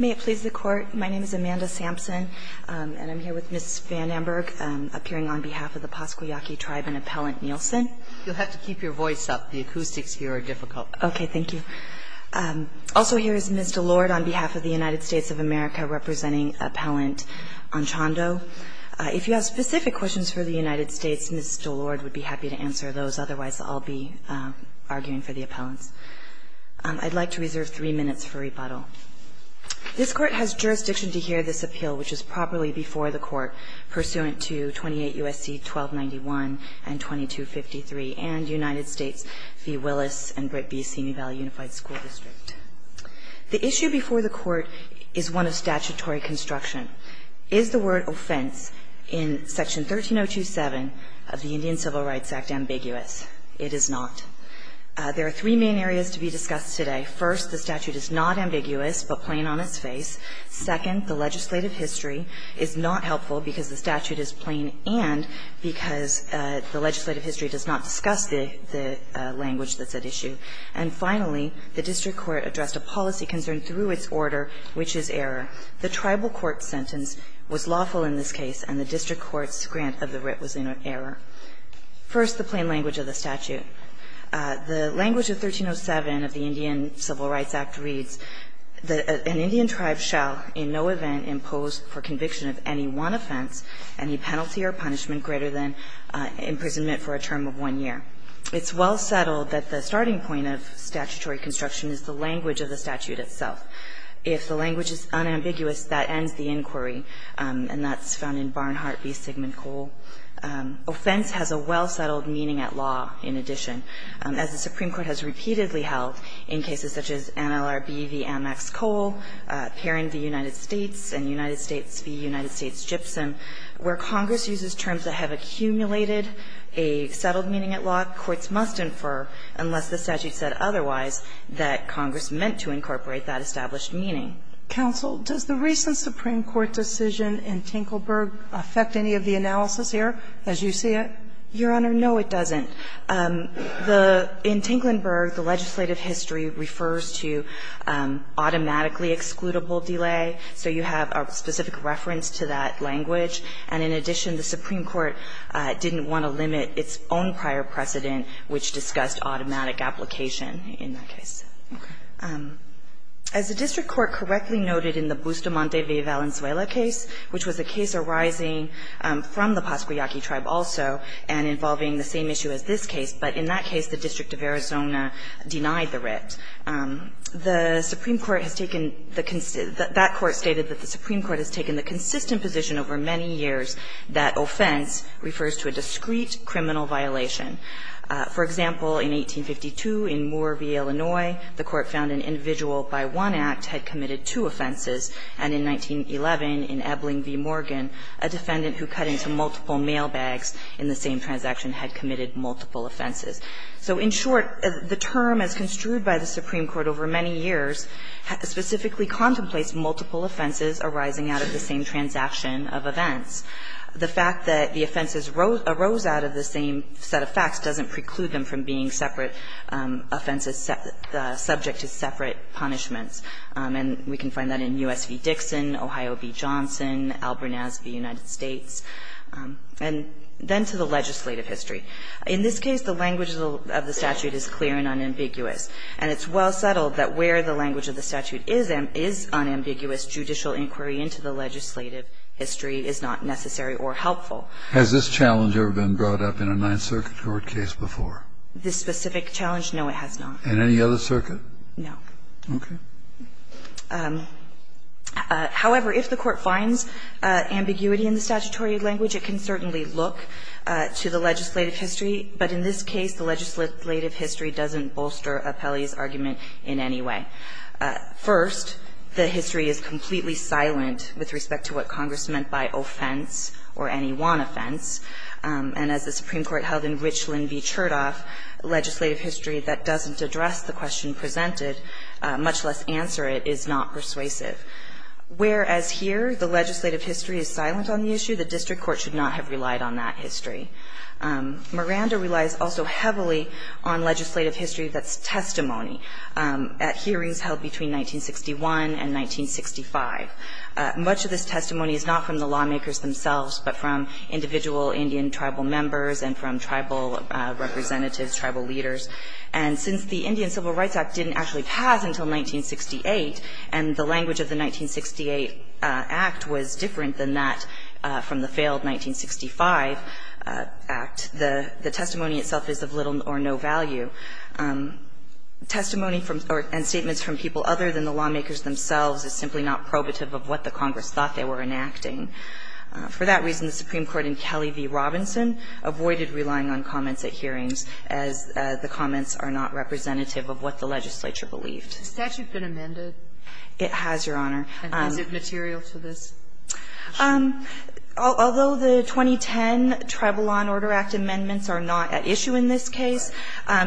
May it please the Court, my name is Amanda Sampson, and I'm here with Ms. Van Amburg, appearing on behalf of the Pascua Yaqui tribe and Appellant Nielsen. You'll have to keep your voice up, the acoustics here are difficult. Okay, thank you. Also here is Ms. DeLorde on behalf of the United States of America, representing Appellant Anchondo. If you have specific questions for the United States, Ms. DeLorde would be happy to answer those, otherwise I'll be arguing for the appellants. I'd like to reserve three minutes for rebuttal. This Court has jurisdiction to hear this appeal, which is properly before the Court, pursuant to 28 U.S.C. 1291 and 2253, and United States v. Willis and Brittby Senior Valley Unified School District. The issue before the Court is one of statutory construction. Is the word offense in Section 13027 of the Indian Civil Rights Act ambiguous? It is not. There are three main areas to be discussed today. First, the statute is not ambiguous, but plain on its face. Second, the legislative history is not helpful because the statute is plain and because the legislative history does not discuss the language that's at issue. And finally, the district court addressed a policy concern through its order, which is error. The tribal court sentence was lawful in this case, and the district court's grant of the writ was in error. First, the plain language of the statute. The language of 1307 of the Indian Civil Rights Act reads that an Indian tribe shall in no event impose for conviction of any one offense any penalty or punishment greater than imprisonment for a term of one year. It's well settled that the starting point of statutory construction is the language of the statute itself. If the language is unambiguous, that ends the inquiry, and that's found in Barnhart v. Sigmund Kohl. Offense has a well-settled meaning at law in addition. As the Supreme Court has repeatedly held in cases such as NLRB v. Anne Max Kohl, Perrin v. United States, and United States v. United States-Gypsum, where Congress uses terms that have accumulated a settled meaning at law, courts must infer, unless the statute said otherwise, that Congress meant to incorporate that established meaning. Sotomayor, does the recent Supreme Court decision in Tinkleburg affect any of the analysis here, as you see it? Your Honor, no, it doesn't. The – in Tinklenburg, the legislative history refers to automatically excludable delay. So you have a specific reference to that language. And in addition, the Supreme Court didn't want to limit its own prior precedent, which discussed automatic application in that case. As the district court correctly noted in the Bustamante v. Valenzuela case, which was a case arising from the Pascua Yaqui tribe also and involving the same issue as this case, but in that case the District of Arizona denied the writ, the Supreme Court has taken the – that court stated that the Supreme Court has taken the consistent position over many years that offense refers to a discrete criminal violation. For example, in 1852 in Moore v. Illinois, the court found an individual by one act had committed two offenses, and in 1911 in Ebling v. Morgan, a defendant who cut into multiple mailbags in the same transaction had committed multiple offenses. So in short, the term as construed by the Supreme Court over many years specifically contemplates multiple offenses arising out of the same transaction of events. The fact that the offenses arose out of the same set of facts doesn't preclude them from being separate offenses subject to separate punishments. And we can find that in U.S. v. Dixon, Ohio v. Johnson, Albert Nazeby, United States. And then to the legislative history. In this case, the language of the statute is clear and unambiguous. And it's well settled that where the language of the statute is unambiguous, judicial inquiry into the legislative history is not necessary or helpful. Kennedy, Has this challenge ever been brought up in a Ninth Circuit court case before? This specific challenge, no, it has not. And any other circuit? No. Okay. However, if the Court finds ambiguity in the statutory language, it can certainly look to the legislative history. But in this case, the legislative history doesn't bolster Apelli's argument in any way. First, the history is completely silent with respect to what Congress meant by offense or any one offense. And as the Supreme Court held in Richland v. Chertoff, legislative history that doesn't address the question presented, much less answer it, is not persuasive. Whereas here, the legislative history is silent on the issue, the district court should not have relied on that history. Miranda relies also heavily on legislative history that's testimony. At hearings held between 1961 and 1965, much of this testimony is not from the lawmakers themselves, but from individual Indian tribal members and from tribal representatives, tribal leaders. And since the Indian Civil Rights Act didn't actually pass until 1968, and the language of the 1968 Act was different than that from the failed 1965 Act, the testimony itself is of little or no value. Testimony from or statements from people other than the lawmakers themselves is simply not probative of what the Congress thought they were enacting. For that reason, the Supreme Court in Kelly v. Robinson avoided relying on comments at hearings, as the comments are not representative of what the legislature believed. Sotomayor, it has, Your Honor. And is it material to this? Although the 2010 Tribal Law and Order Act amendments are not at issue in this case,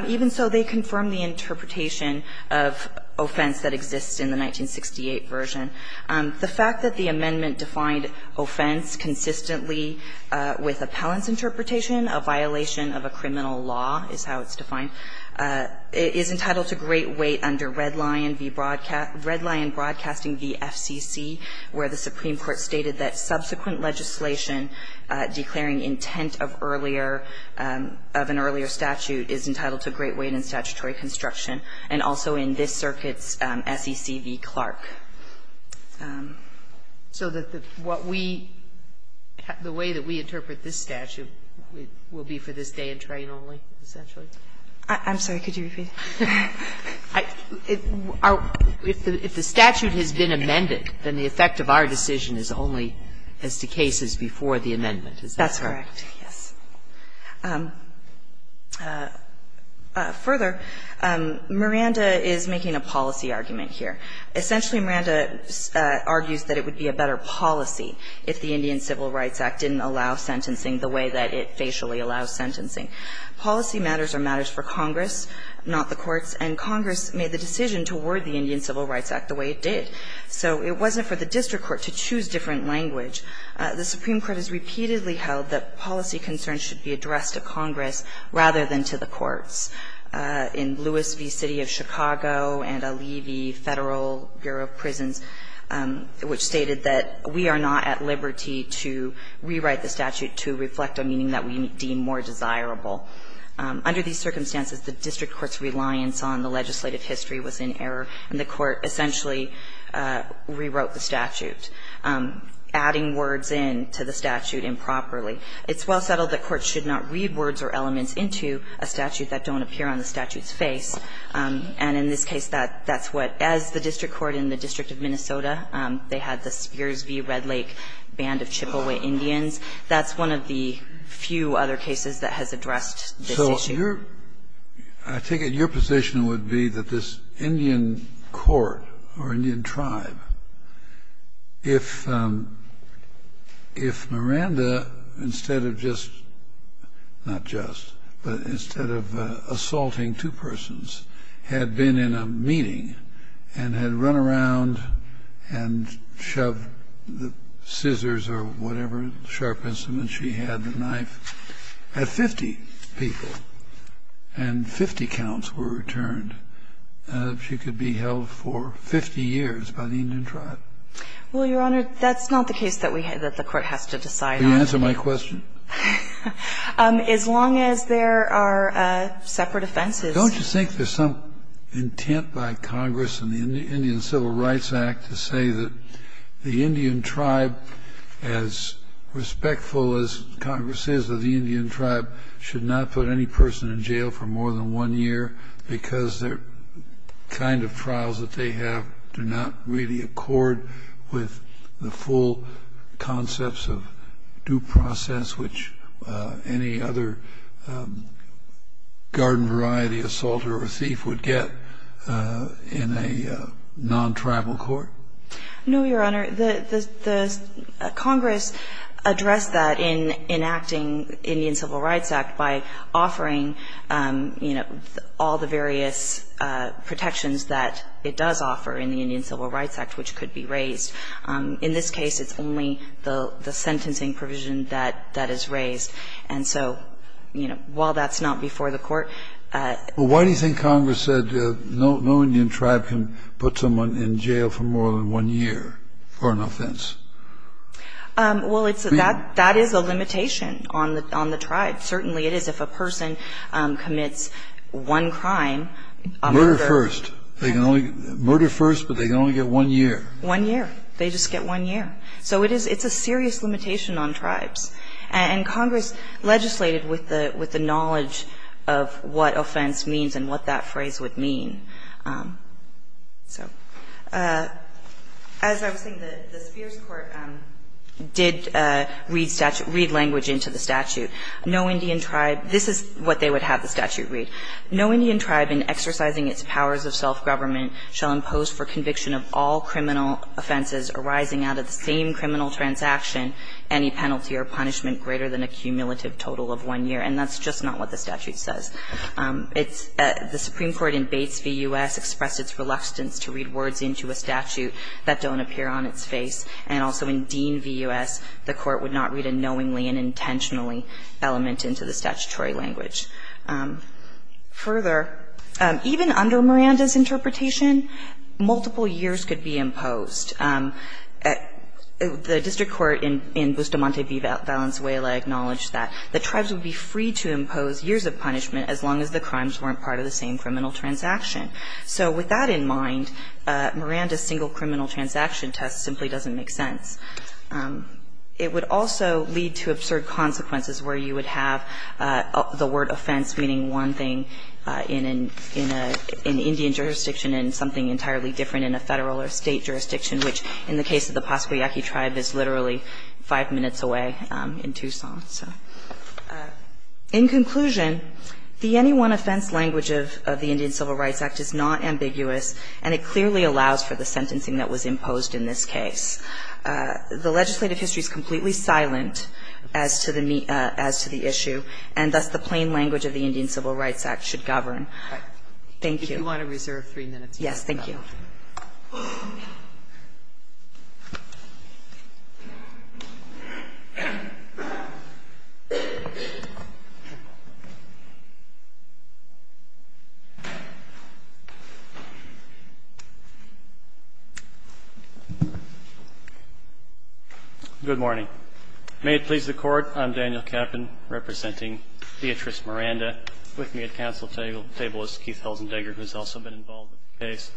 even so, they confirm the interpretation of offense that exists in the 1968 version. The fact that the amendment defined offense consistently with appellant's interpretation, a violation of a criminal law is how it's defined, is entitled to great weight under Red Lion v. Broadcast Red Lion Broadcasting v. FCC, where the Supreme Court stated that subsequent legislation declaring intent of earlier of an earlier statute is entitled to great weight in statutory construction. And also in this circuit's SEC v. Clark. So that what we the way that we interpret this statute will be for this day and train only, essentially? I'm sorry. Could you repeat? If the statute has been amended, then the effect of our decision is only as the case is before the amendment. Is that correct? That's correct. Yes. Further, Miranda is making a policy argument here. Essentially, Miranda argues that it would be a better policy if the Indian Civil Rights Act didn't allow sentencing the way that it facially allows sentencing. Policy matters are matters for Congress, not the courts, and Congress made the decision to word the Indian Civil Rights Act the way it did. So it wasn't for the district court to choose different language. The Supreme Court has repeatedly held that policy concerns should be addressed to Congress rather than to the courts. In Lewis v. City of Chicago and Alivi Federal Bureau of Prisons, which stated that we are not at liberty to rewrite the statute to reflect a meaning that we deem more desirable. Under these circumstances, the district court's reliance on the legislative history was in error, and the court essentially rewrote the statute. Adding words in to the statute improperly. It's well settled that courts should not read words or elements into a statute that don't appear on the statute's face. And in this case, that's what, as the district court in the District of Minnesota, they had the Spears v. Red Lake band of Chippewa Indians. That's one of the few other cases that has addressed this issue. So your – I take it your position would be that this Indian court or Indian tribe would be held accountable if Miranda, instead of just – not just, but instead of assaulting two persons, had been in a meeting and had run around and shoved the scissors or whatever sharp instrument she had, the knife, at 50 people, and 50 counts were returned, that she could be held for 50 years by the Indian tribe. Well, Your Honor, that's not the case that we – that the court has to decide on. Will you answer my question? As long as there are separate offenses. Don't you think there's some intent by Congress in the Indian Civil Rights Act to say that the Indian tribe, as respectful as Congress is of the Indian tribe, should not put any person in jail for more than one year because their kind of trials that they have do not really accord with the full concepts of due process, which any other garden variety assaulter or thief would get in a non-tribal court? No, Your Honor, the Congress addressed that in enacting Indian Civil Rights Act by offering, you know, all the various protections that it does offer in the Indian Civil Rights Act, which could be raised. In this case, it's only the sentencing provision that is raised. And so, you know, while that's not before the court – Well, why do you think Congress said no Indian tribe can put someone in jail for more than one year for an offense? Well, it's – that is a limitation on the tribe. Certainly, it is if a person commits one crime, a murder – Murder first. They can only – murder first, but they can only get one year. One year. They just get one year. So it is – it's a serious limitation on tribes. And Congress legislated with the knowledge of what offense means and what that phrase would mean. So as I was saying, the Spears court did read language into the statute, knowing that no Indian tribe – this is what they would have the statute read. No Indian tribe in exercising its powers of self-government shall impose for conviction of all criminal offenses arising out of the same criminal transaction any penalty or punishment greater than a cumulative total of one year. And that's just not what the statute says. It's – the Supreme Court in Bates v. U.S. expressed its reluctance to read words into a statute that don't appear on its face. And also in Dean v. U.S., the court would not read a knowingly and intentionally element into the statutory language. Further, even under Miranda's interpretation, multiple years could be imposed. The district court in Bustamante v. Valenzuela acknowledged that the tribes would be free to impose years of punishment as long as the crimes weren't part of the same criminal transaction. So with that in mind, Miranda's single criminal transaction test simply doesn't make sense. It would also lead to absurd consequences where you would have the word offense meaning one thing in an – in an Indian jurisdiction and something entirely different in a Federal or State jurisdiction, which in the case of the Pascua Yaqui tribe is literally five minutes away in Tucson, so. In conclusion, the NE1 offense language of the Indian Civil Rights Act is not ambiguous and it clearly allows for the sentencing that was imposed in this case. The legislative history is completely silent as to the – as to the issue, and thus the plain language of the Indian Civil Rights Act should govern. Thank you. If you want to reserve three minutes. Yes. Thank you. Good morning. May it please the Court. I'm Daniel Kappen, representing Beatrice Miranda. With me at counsel table is Keith Helzendegger, who has also been involved in the case.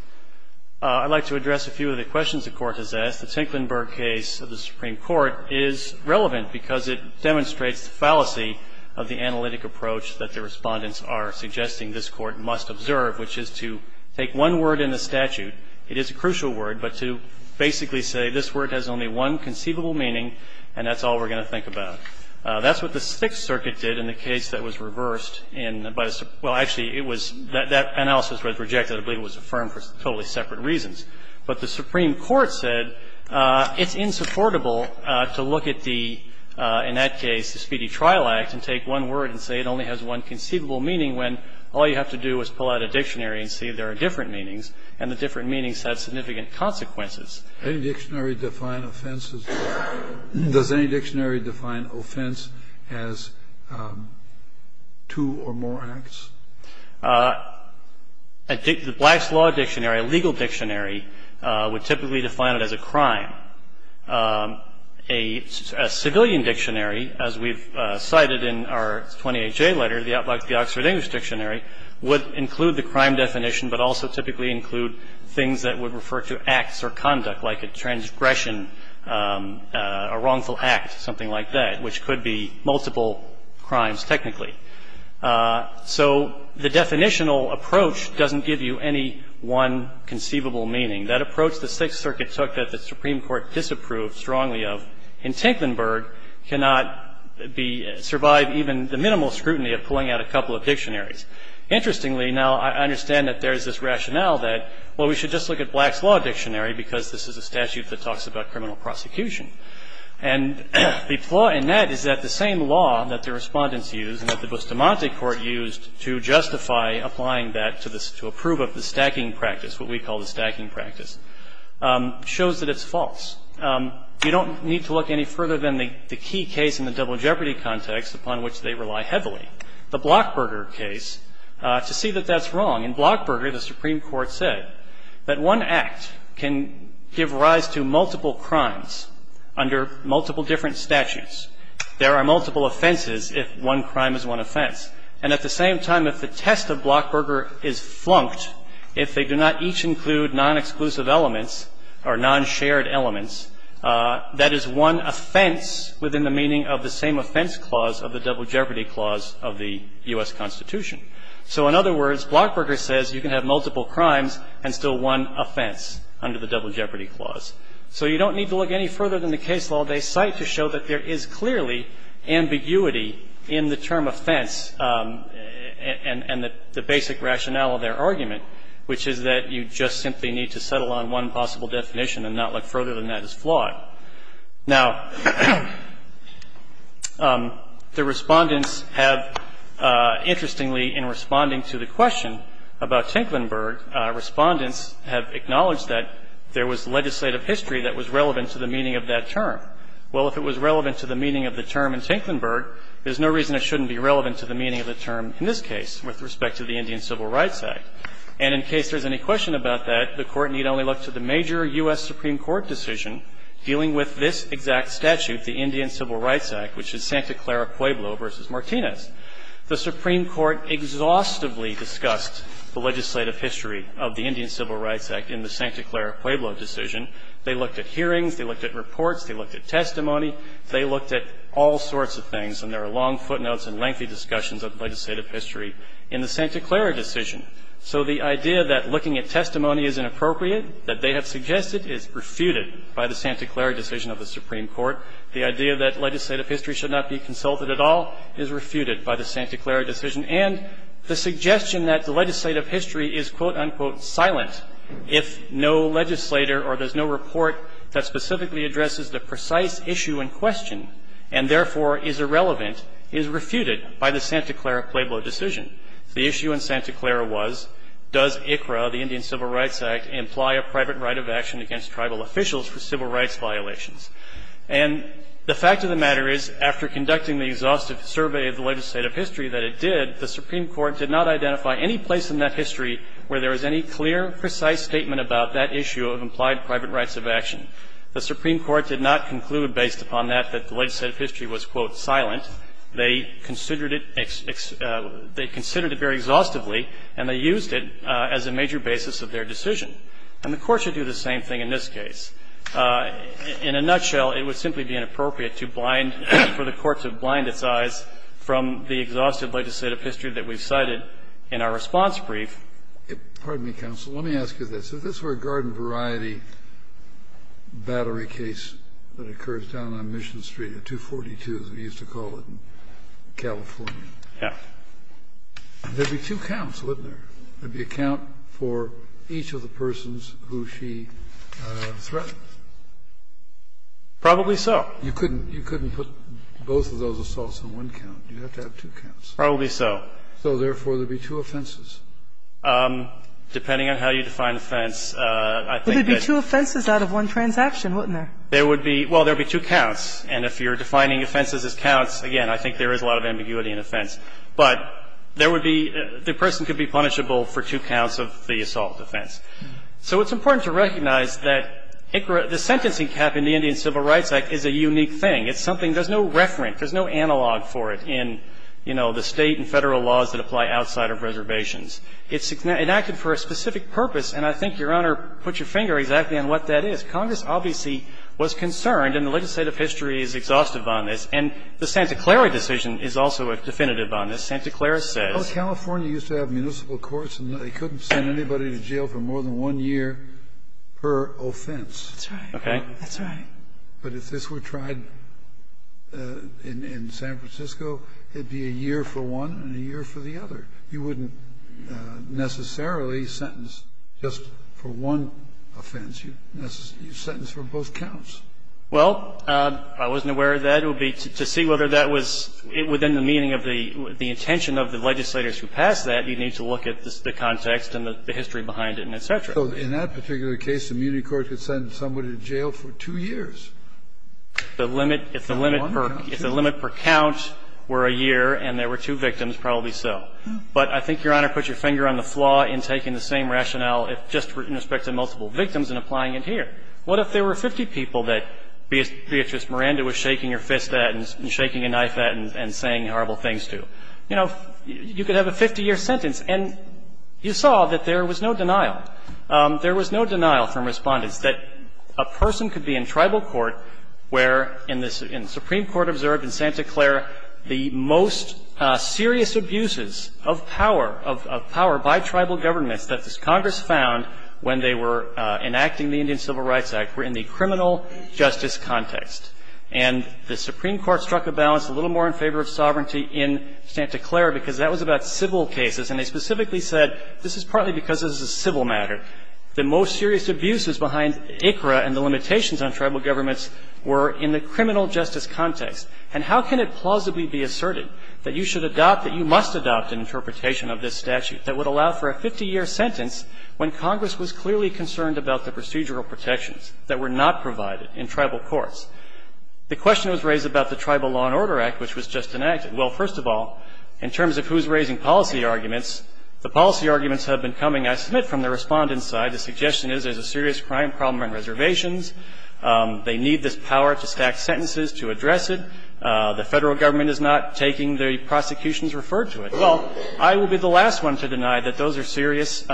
I'd like to address a few of the questions the Court has asked. The Tinklenburg case of the Supreme Court is relevant because it demonstrates the fallacy of the analytic approach that the Respondents are suggesting this Court must observe, which is to take one word in the statute. It is a crucial word, but to basically say this word has only one conceivable meaning and that's all we're going to think about. That's what the Sixth Circuit did in the case that was reversed in – well, actually, it was – that analysis was rejected. I believe it was affirmed for totally separate reasons. But the Supreme Court said it's insupportable to look at the – in that case, the Speedy Trial Act, and take one word and say it only has one conceivable meaning when all you have to do is pull out a dictionary and see there are different meanings, and the different meanings have significant consequences. Kennedy. Any dictionary define offense as – does any dictionary define offense as two or more acts? Wessler. The Black's Law Dictionary, a legal dictionary, would typically define it as a crime. A civilian dictionary, as we've cited in our 28J letter, like the Oxford English Dictionary, would include the crime definition but also typically include things that would refer to acts or conduct, like a transgression, a wrongful act, something like that, which could be multiple crimes technically. So the definitional approach doesn't give you any one conceivable meaning. That approach the Sixth Circuit took that the Supreme Court disapproved strongly of in Tinklenburg cannot be – survive even the minimal scrutiny of pulling out a dictionary. Interestingly, now I understand that there is this rationale that, well, we should just look at Black's Law Dictionary because this is a statute that talks about criminal prosecution. And the flaw in that is that the same law that the respondents used and that the Bustamante Court used to justify applying that to approve of the stacking practice, what we call the stacking practice, shows that it's false. You don't need to look any further than the key case in the double jeopardy context upon which they rely heavily. The Blockberger case, to see that that's wrong. In Blockberger, the Supreme Court said that one act can give rise to multiple crimes under multiple different statutes. There are multiple offenses if one crime is one offense. And at the same time, if the test of Blockberger is flunked, if they do not each include non-exclusive elements or non-shared elements, that is one offense within the meaning of the same offense clause of the double jeopardy clause of the U.S. Constitution. So in other words, Blockberger says you can have multiple crimes and still one offense under the double jeopardy clause. So you don't need to look any further than the case law. They cite to show that there is clearly ambiguity in the term offense and the basic rationale of their argument, which is that you just simply need to settle on one possible definition and not look further than that is flawed. Now, the Respondents have, interestingly, in responding to the question about Tinklenburg, Respondents have acknowledged that there was legislative history that was relevant to the meaning of that term. Well, if it was relevant to the meaning of the term in Tinklenburg, there's no reason it shouldn't be relevant to the meaning of the term in this case with respect to the Indian Civil Rights Act. And in case there's any question about that, the Court need only look to the major U.S. Supreme Court decision dealing with this exact statute, the Indian Civil Rights Act, which is Santa Clara Pueblo v. Martinez. The Supreme Court exhaustively discussed the legislative history of the Indian Civil Rights Act in the Santa Clara Pueblo decision. They looked at hearings. They looked at reports. They looked at testimony. They looked at all sorts of things. And there are long footnotes and lengthy discussions of legislative history in the Santa Clara decision. So the idea that looking at testimony is inappropriate, that they have suggested is refuted by the Santa Clara decision of the Supreme Court. The idea that legislative history should not be consulted at all is refuted by the Santa Clara decision. And the suggestion that the legislative history is, quote, unquote, silent if no legislator or there's no report that specifically addresses the precise issue in question, and therefore is irrelevant, is refuted by the Santa Clara Pueblo decision. The issue in Santa Clara was, does ICRA, the Indian Civil Rights Act, imply a private right of action against tribal officials for civil rights violations? And the fact of the matter is, after conducting the exhaustive survey of the legislative history that it did, the Supreme Court did not identify any place in that history where there was any clear, precise statement about that issue of implied private rights of action. The Supreme Court did not conclude, based upon that, that the legislative history was, quote, silent. They considered it very exhaustively, and they used it as a major basis of their decision. And the Court should do the same thing in this case. In a nutshell, it would simply be inappropriate to blind, for the Court to blind its eyes from the exhaustive legislative history that we've cited in our response brief. Kennedy. Pardon me, counsel. Let me ask you this. If this were a garden variety battery case that occurs down on Mission Street at 242, as we used to call it in California, there would be two counts, wouldn't there? There would be a count for each of the persons who she threatened? Probably so. You couldn't put both of those assaults on one count. You'd have to have two counts. Probably so. So, therefore, there would be two offenses. Depending on how you define offense, I think that's... There would be two offenses out of one transaction, wouldn't there? There would be – well, there would be two counts. And if you're defining offenses as counts, again, I think there is a lot of ambiguity in offense. But there would be – the person could be punishable for two counts of the assault offense. So it's important to recognize that the sentencing cap in the Indian Civil Rights Act is a unique thing. It's something – there's no reference, there's no analog for it in, you know, the State and Federal laws that apply outside of reservations. It's enacted for a specific purpose, and I think Your Honor put your finger exactly on what that is. Congress obviously was concerned, and the legislative history is exhaustive on this, and the Santa Clara decision is also definitive on this. Santa Clara says... Well, California used to have municipal courts, and they couldn't send anybody to jail for more than one year per offense. That's right. Okay. That's right. But if this were tried in San Francisco, it'd be a year for one and a year for the other. You wouldn't necessarily sentence just for one offense. You'd sentence for both counts. Well, I wasn't aware of that. It would be to see whether that was within the meaning of the intention of the legislators who passed that. You'd need to look at the context and the history behind it and et cetera. So in that particular case, the immunity court could send somebody to jail for two years. If the limit per count were a year and there were two victims, probably so. But I think Your Honor put your finger on the flaw in taking the same rationale just in respect to multiple victims and applying it here. What if there were 50 people that Beatrice Miranda was shaking her fist at and shaking a knife at and saying horrible things to? You know, you could have a 50-year sentence, and you saw that there was no denial. There was no denial from respondents that a person could be in tribal court where, in the Supreme Court observed in Santa Clara, the most serious abuses of power, of power by tribal governments that this Congress found when they were enacting the Indian Civil Rights Act were in the criminal justice context. And the Supreme Court struck a balance a little more in favor of sovereignty in Santa Clara because that was about civil cases. And they specifically said this is partly because this is a civil matter. The most serious abuses behind ICRA and the limitations on tribal governments were in the criminal justice context. And how can it plausibly be asserted that you should adopt, that you must adopt an interpretation of this statute that would allow for a 50-year sentence when Congress was clearly concerned about the procedural protections that were not provided in tribal courts? The question was raised about the Tribal Law and Order Act, which was just enacted. Well, first of all, in terms of who's raising policy arguments, the policy arguments have been coming, I submit, from the respondent's side. The suggestion is there's a serious crime problem on reservations. They need this power to stack sentences to address it. The Federal Government is not taking the prosecutions referred to it. Well, I will be the last one to deny that those are serious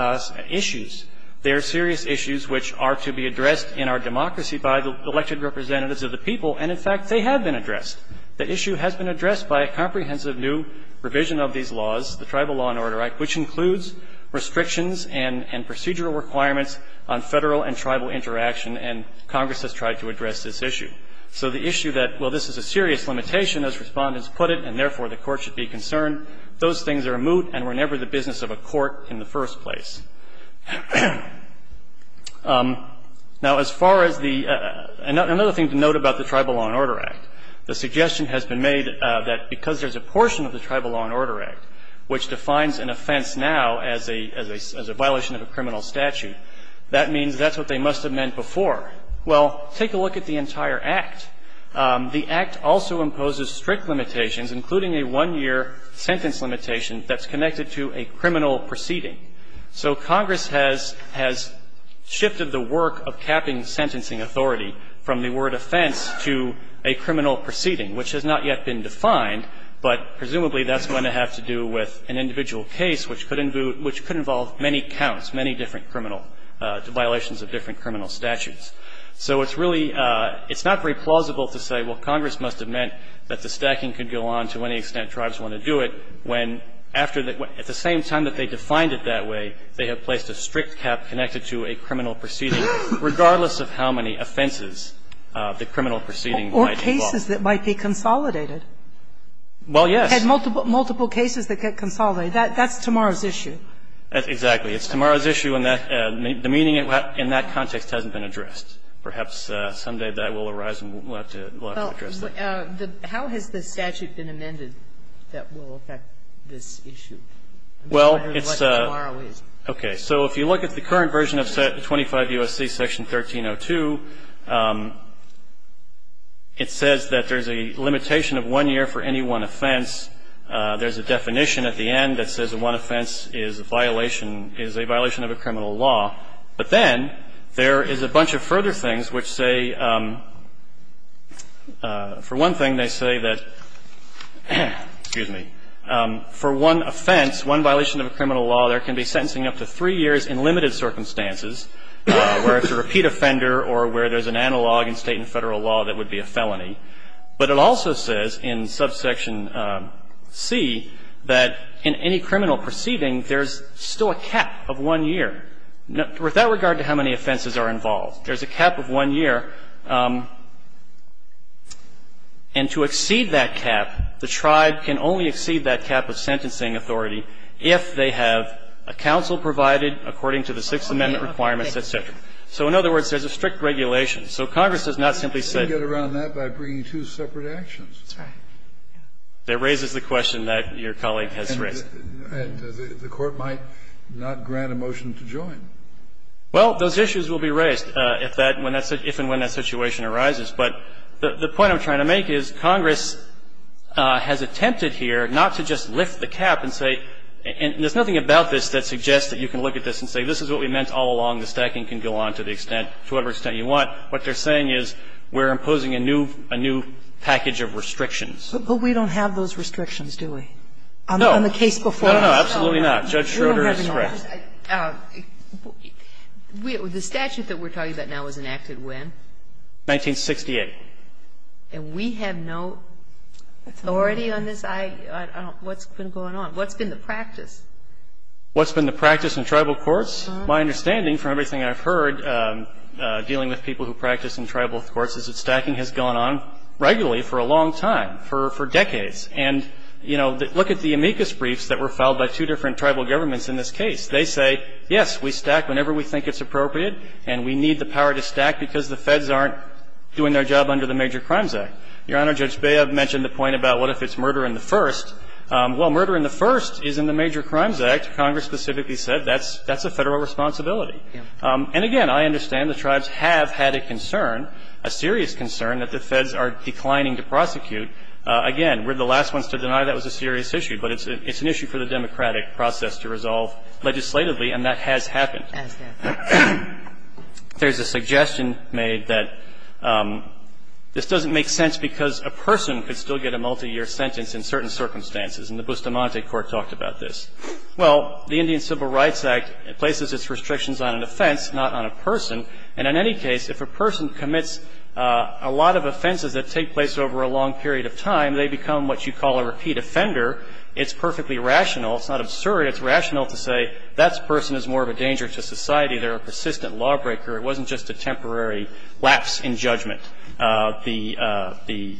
issues. They are serious issues which are to be addressed in our democracy by the elected representatives of the people, and, in fact, they have been addressed. The issue has been addressed by a comprehensive new revision of these laws, the Tribal Law and Order Act, which includes restrictions and procedural requirements on Federal and tribal interaction, and Congress has tried to address this issue. So the issue that, well, this is a serious limitation, as Respondents put it, and therefore the court should be concerned, those things are moot and were never the business of a court in the first place. Now, as far as the other thing to note about the Tribal Law and Order Act, the suggestion has been made that because there's a portion of the Tribal Law and Order Act which defines an offense now as a violation of a criminal statute, that means that's what they must have meant before. Well, take a look at the entire Act. The Act also imposes strict limitations, including a one-year sentence limitation that's connected to a criminal proceeding. So Congress has shifted the work of capping sentencing authority from the word offense to a criminal proceeding, which has not yet been defined, but presumably that's going to have to do with an individual case which could involve many counts, many different criminal violations of different criminal statutes. So it's really, it's not very plausible to say, well, Congress must have meant that the stacking could go on to any extent Tribes want to do it, when after, at the same time that they defined it that way, they have placed a strict cap connected to a criminal proceeding, regardless of how many offenses the criminal proceeding might involve. Or cases that might be consolidated. Well, yes. Multiple cases that get consolidated. That's tomorrow's issue. Exactly. It's tomorrow's issue, and the meaning in that context hasn't been addressed. Perhaps someday that will arise and we'll have to address that. Well, how has the statute been amended that will affect this issue? Well, it's a... I'm just wondering what tomorrow is. Okay. So if you look at the current version of 25 U.S.C. Section 1302, it says that there's a limitation of one year for any one offense. There's a definition at the end that says one offense is a violation, is a violation of a criminal law. But then there is a bunch of further things which say, for one thing, they say that for one offense, one violation of a criminal law, there can be sentencing up to three years in limited circumstances, where it's a repeat offender or where there's an analog in State and Federal law that would be a felony. But it also says in subsection C that in any criminal proceeding, there's still a cap of one year. With that regard to how many offenses are involved, there's a cap of one year. And to exceed that cap, the tribe can only exceed that cap of sentencing authority if they have a counsel provided according to the Sixth Amendment requirements, et cetera. So in other words, there's a strict regulation. So Congress has not simply said... You can get around that by bringing two separate actions. That's right. That raises the question that your colleague has raised. The Court might not grant a motion to join. Well, those issues will be raised if that – if and when that situation arises. But the point I'm trying to make is Congress has attempted here not to just lift the cap and say – and there's nothing about this that suggests that you can look at this and say, this is what we meant all along. The stacking can go on to the extent – to whatever extent you want. What they're saying is we're imposing a new package of restrictions. But we don't have those restrictions, do we? No. On the case before us? No, no, no. Absolutely not. Judge Schroeder is correct. The statute that we're talking about now was enacted when? 1968. And we have no authority on this? I don't – what's been going on? What's been the practice? What's been the practice in tribal courts? My understanding from everything I've heard dealing with people who practice in tribal courts is that stacking has gone on regularly for a long time, for decades. And, you know, look at the amicus briefs that were filed by two different tribal governments in this case. They say, yes, we stack whenever we think it's appropriate, and we need the power to stack because the feds aren't doing their job under the Major Crimes Act. Your Honor, Judge Bea mentioned the point about what if it's murder in the first. Well, murder in the first is in the Major Crimes Act. Congress specifically said that's a Federal responsibility. And again, I understand the tribes have had a concern, a serious concern, that the feds are declining to prosecute. Again, we're the last ones to deny that was a serious issue. But it's an issue for the democratic process to resolve legislatively, and that has happened. There's a suggestion made that this doesn't make sense because a person could still get a multiyear sentence in certain circumstances. And the Bustamante Court talked about this. Well, the Indian Civil Rights Act places its restrictions on an offense, not on a person. And in any case, if a person commits a lot of offenses that take place over a long period of time, they become what you call a repeat offender. It's perfectly rational. It's not absurd. It's rational to say that person is more of a danger to society. They're a persistent lawbreaker. It wasn't just a temporary lapse in judgment. The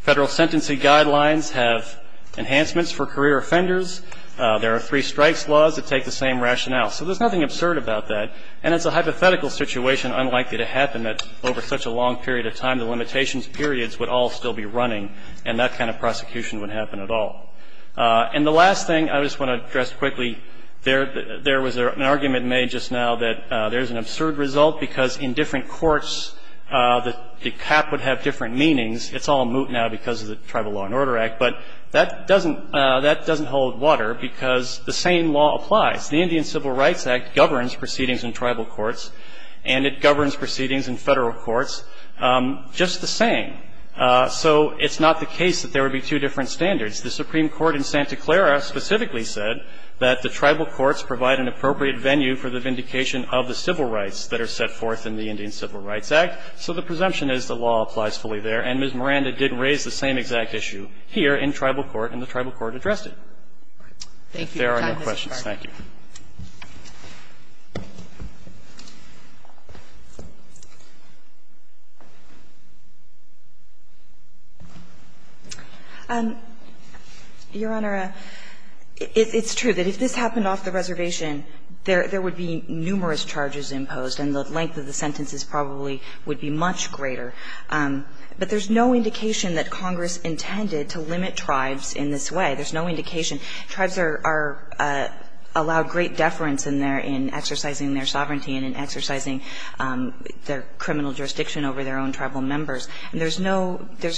Federal sentencing guidelines have enhancements for career offenders. There are three strikes laws that take the same rationale. So there's nothing absurd about that. And it's a hypothetical situation unlikely to happen that over such a long period of time the limitations periods would all still be running, and that kind of prosecution would happen at all. And the last thing I just want to address quickly, there was an argument made just now that there's an absurd result because in different courts the cap would have different meanings. It's all moot now because of the Tribal Law and Order Act. But that doesn't hold water because the same law applies. The Indian Civil Rights Act governs proceedings in tribal courts, and it governs proceedings in Federal courts just the same. So it's not the case that there would be two different standards. The Supreme Court in Santa Clara specifically said that the tribal courts provide an appropriate venue for the vindication of the civil rights that are set forth in the Indian Civil Rights Act. So the presumption is the law applies fully there. And Ms. Miranda did raise the same exact issue here in tribal court, and the tribal court addressed it. There are no questions. Thank you. Your Honor, it's true that if this happened off the reservation, there would be numerous charges imposed, and the length of the sentences probably would be much greater. But there's no indication that Congress intended to limit tribes in this way. There's no indication. There's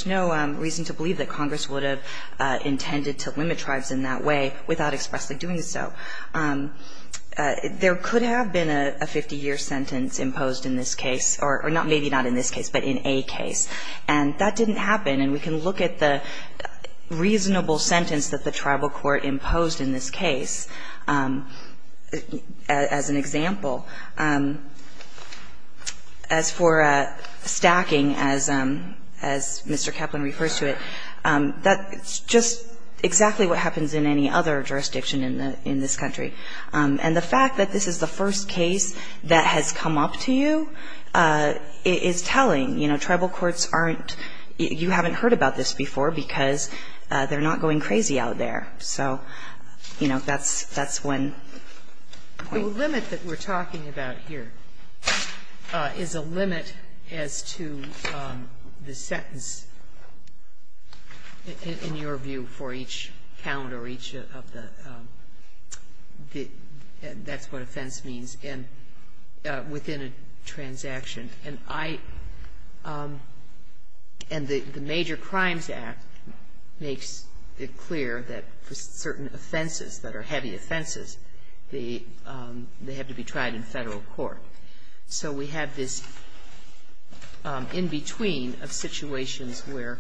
no reason to believe that Congress would have intended to limit tribes in that way without expressly doing so. There could have been a 50-year sentence imposed in this case, or maybe not in this case, but in a case. And that didn't happen. And we can look at the reasonable sentence that the tribal court imposed in this in this case. As an example, as for stacking, as Mr. Kaplan refers to it, that's just exactly what happens in any other jurisdiction in this country. And the fact that this is the first case that has come up to you is telling. You know, tribal courts aren't you haven't heard about this before because they're not going crazy out there. So, you know, that's one point. The limit that we're talking about here is a limit as to the sentence, in your view, for each count or each of the, that's what offense means, within a transaction. And I, and the Major Crimes Act makes it clear that for certain offenses that are heavy offenses, they have to be tried in federal court. So we have this in between of situations where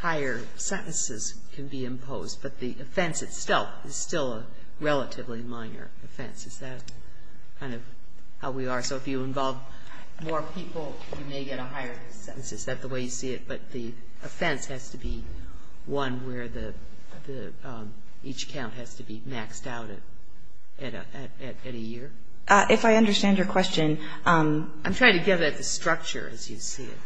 higher sentences can be imposed, but the offense itself is still a relatively minor offense. Is that kind of how we are? So if you involve more people, you may get a higher sentence. Is that the way you see it? But the offense has to be one where the, each count has to be maxed out at a year? If I understand your question. I'm trying to get at the structure as you see it.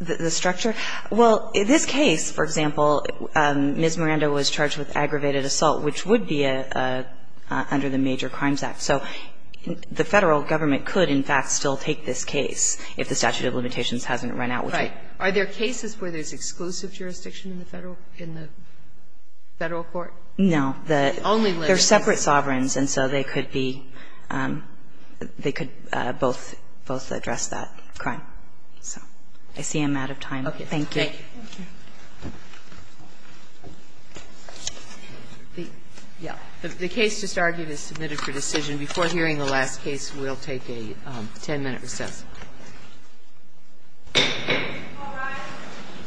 The structure? Well, in this case, for example, Ms. Miranda was charged with aggravated assault, which would be under the Major Crimes Act. So the federal government could, in fact, still take this case if the statute of limitations hasn't run out. Right. Are there cases where there's exclusive jurisdiction in the federal, in the federal court? No. The only limit. They're separate sovereigns, and so they could be, they could both, both address that crime. So I see I'm out of time. Okay. Thank you. Thank you. The case just argued is submitted for decision. Before hearing the last case, we'll take a 10-minute recess. All rise.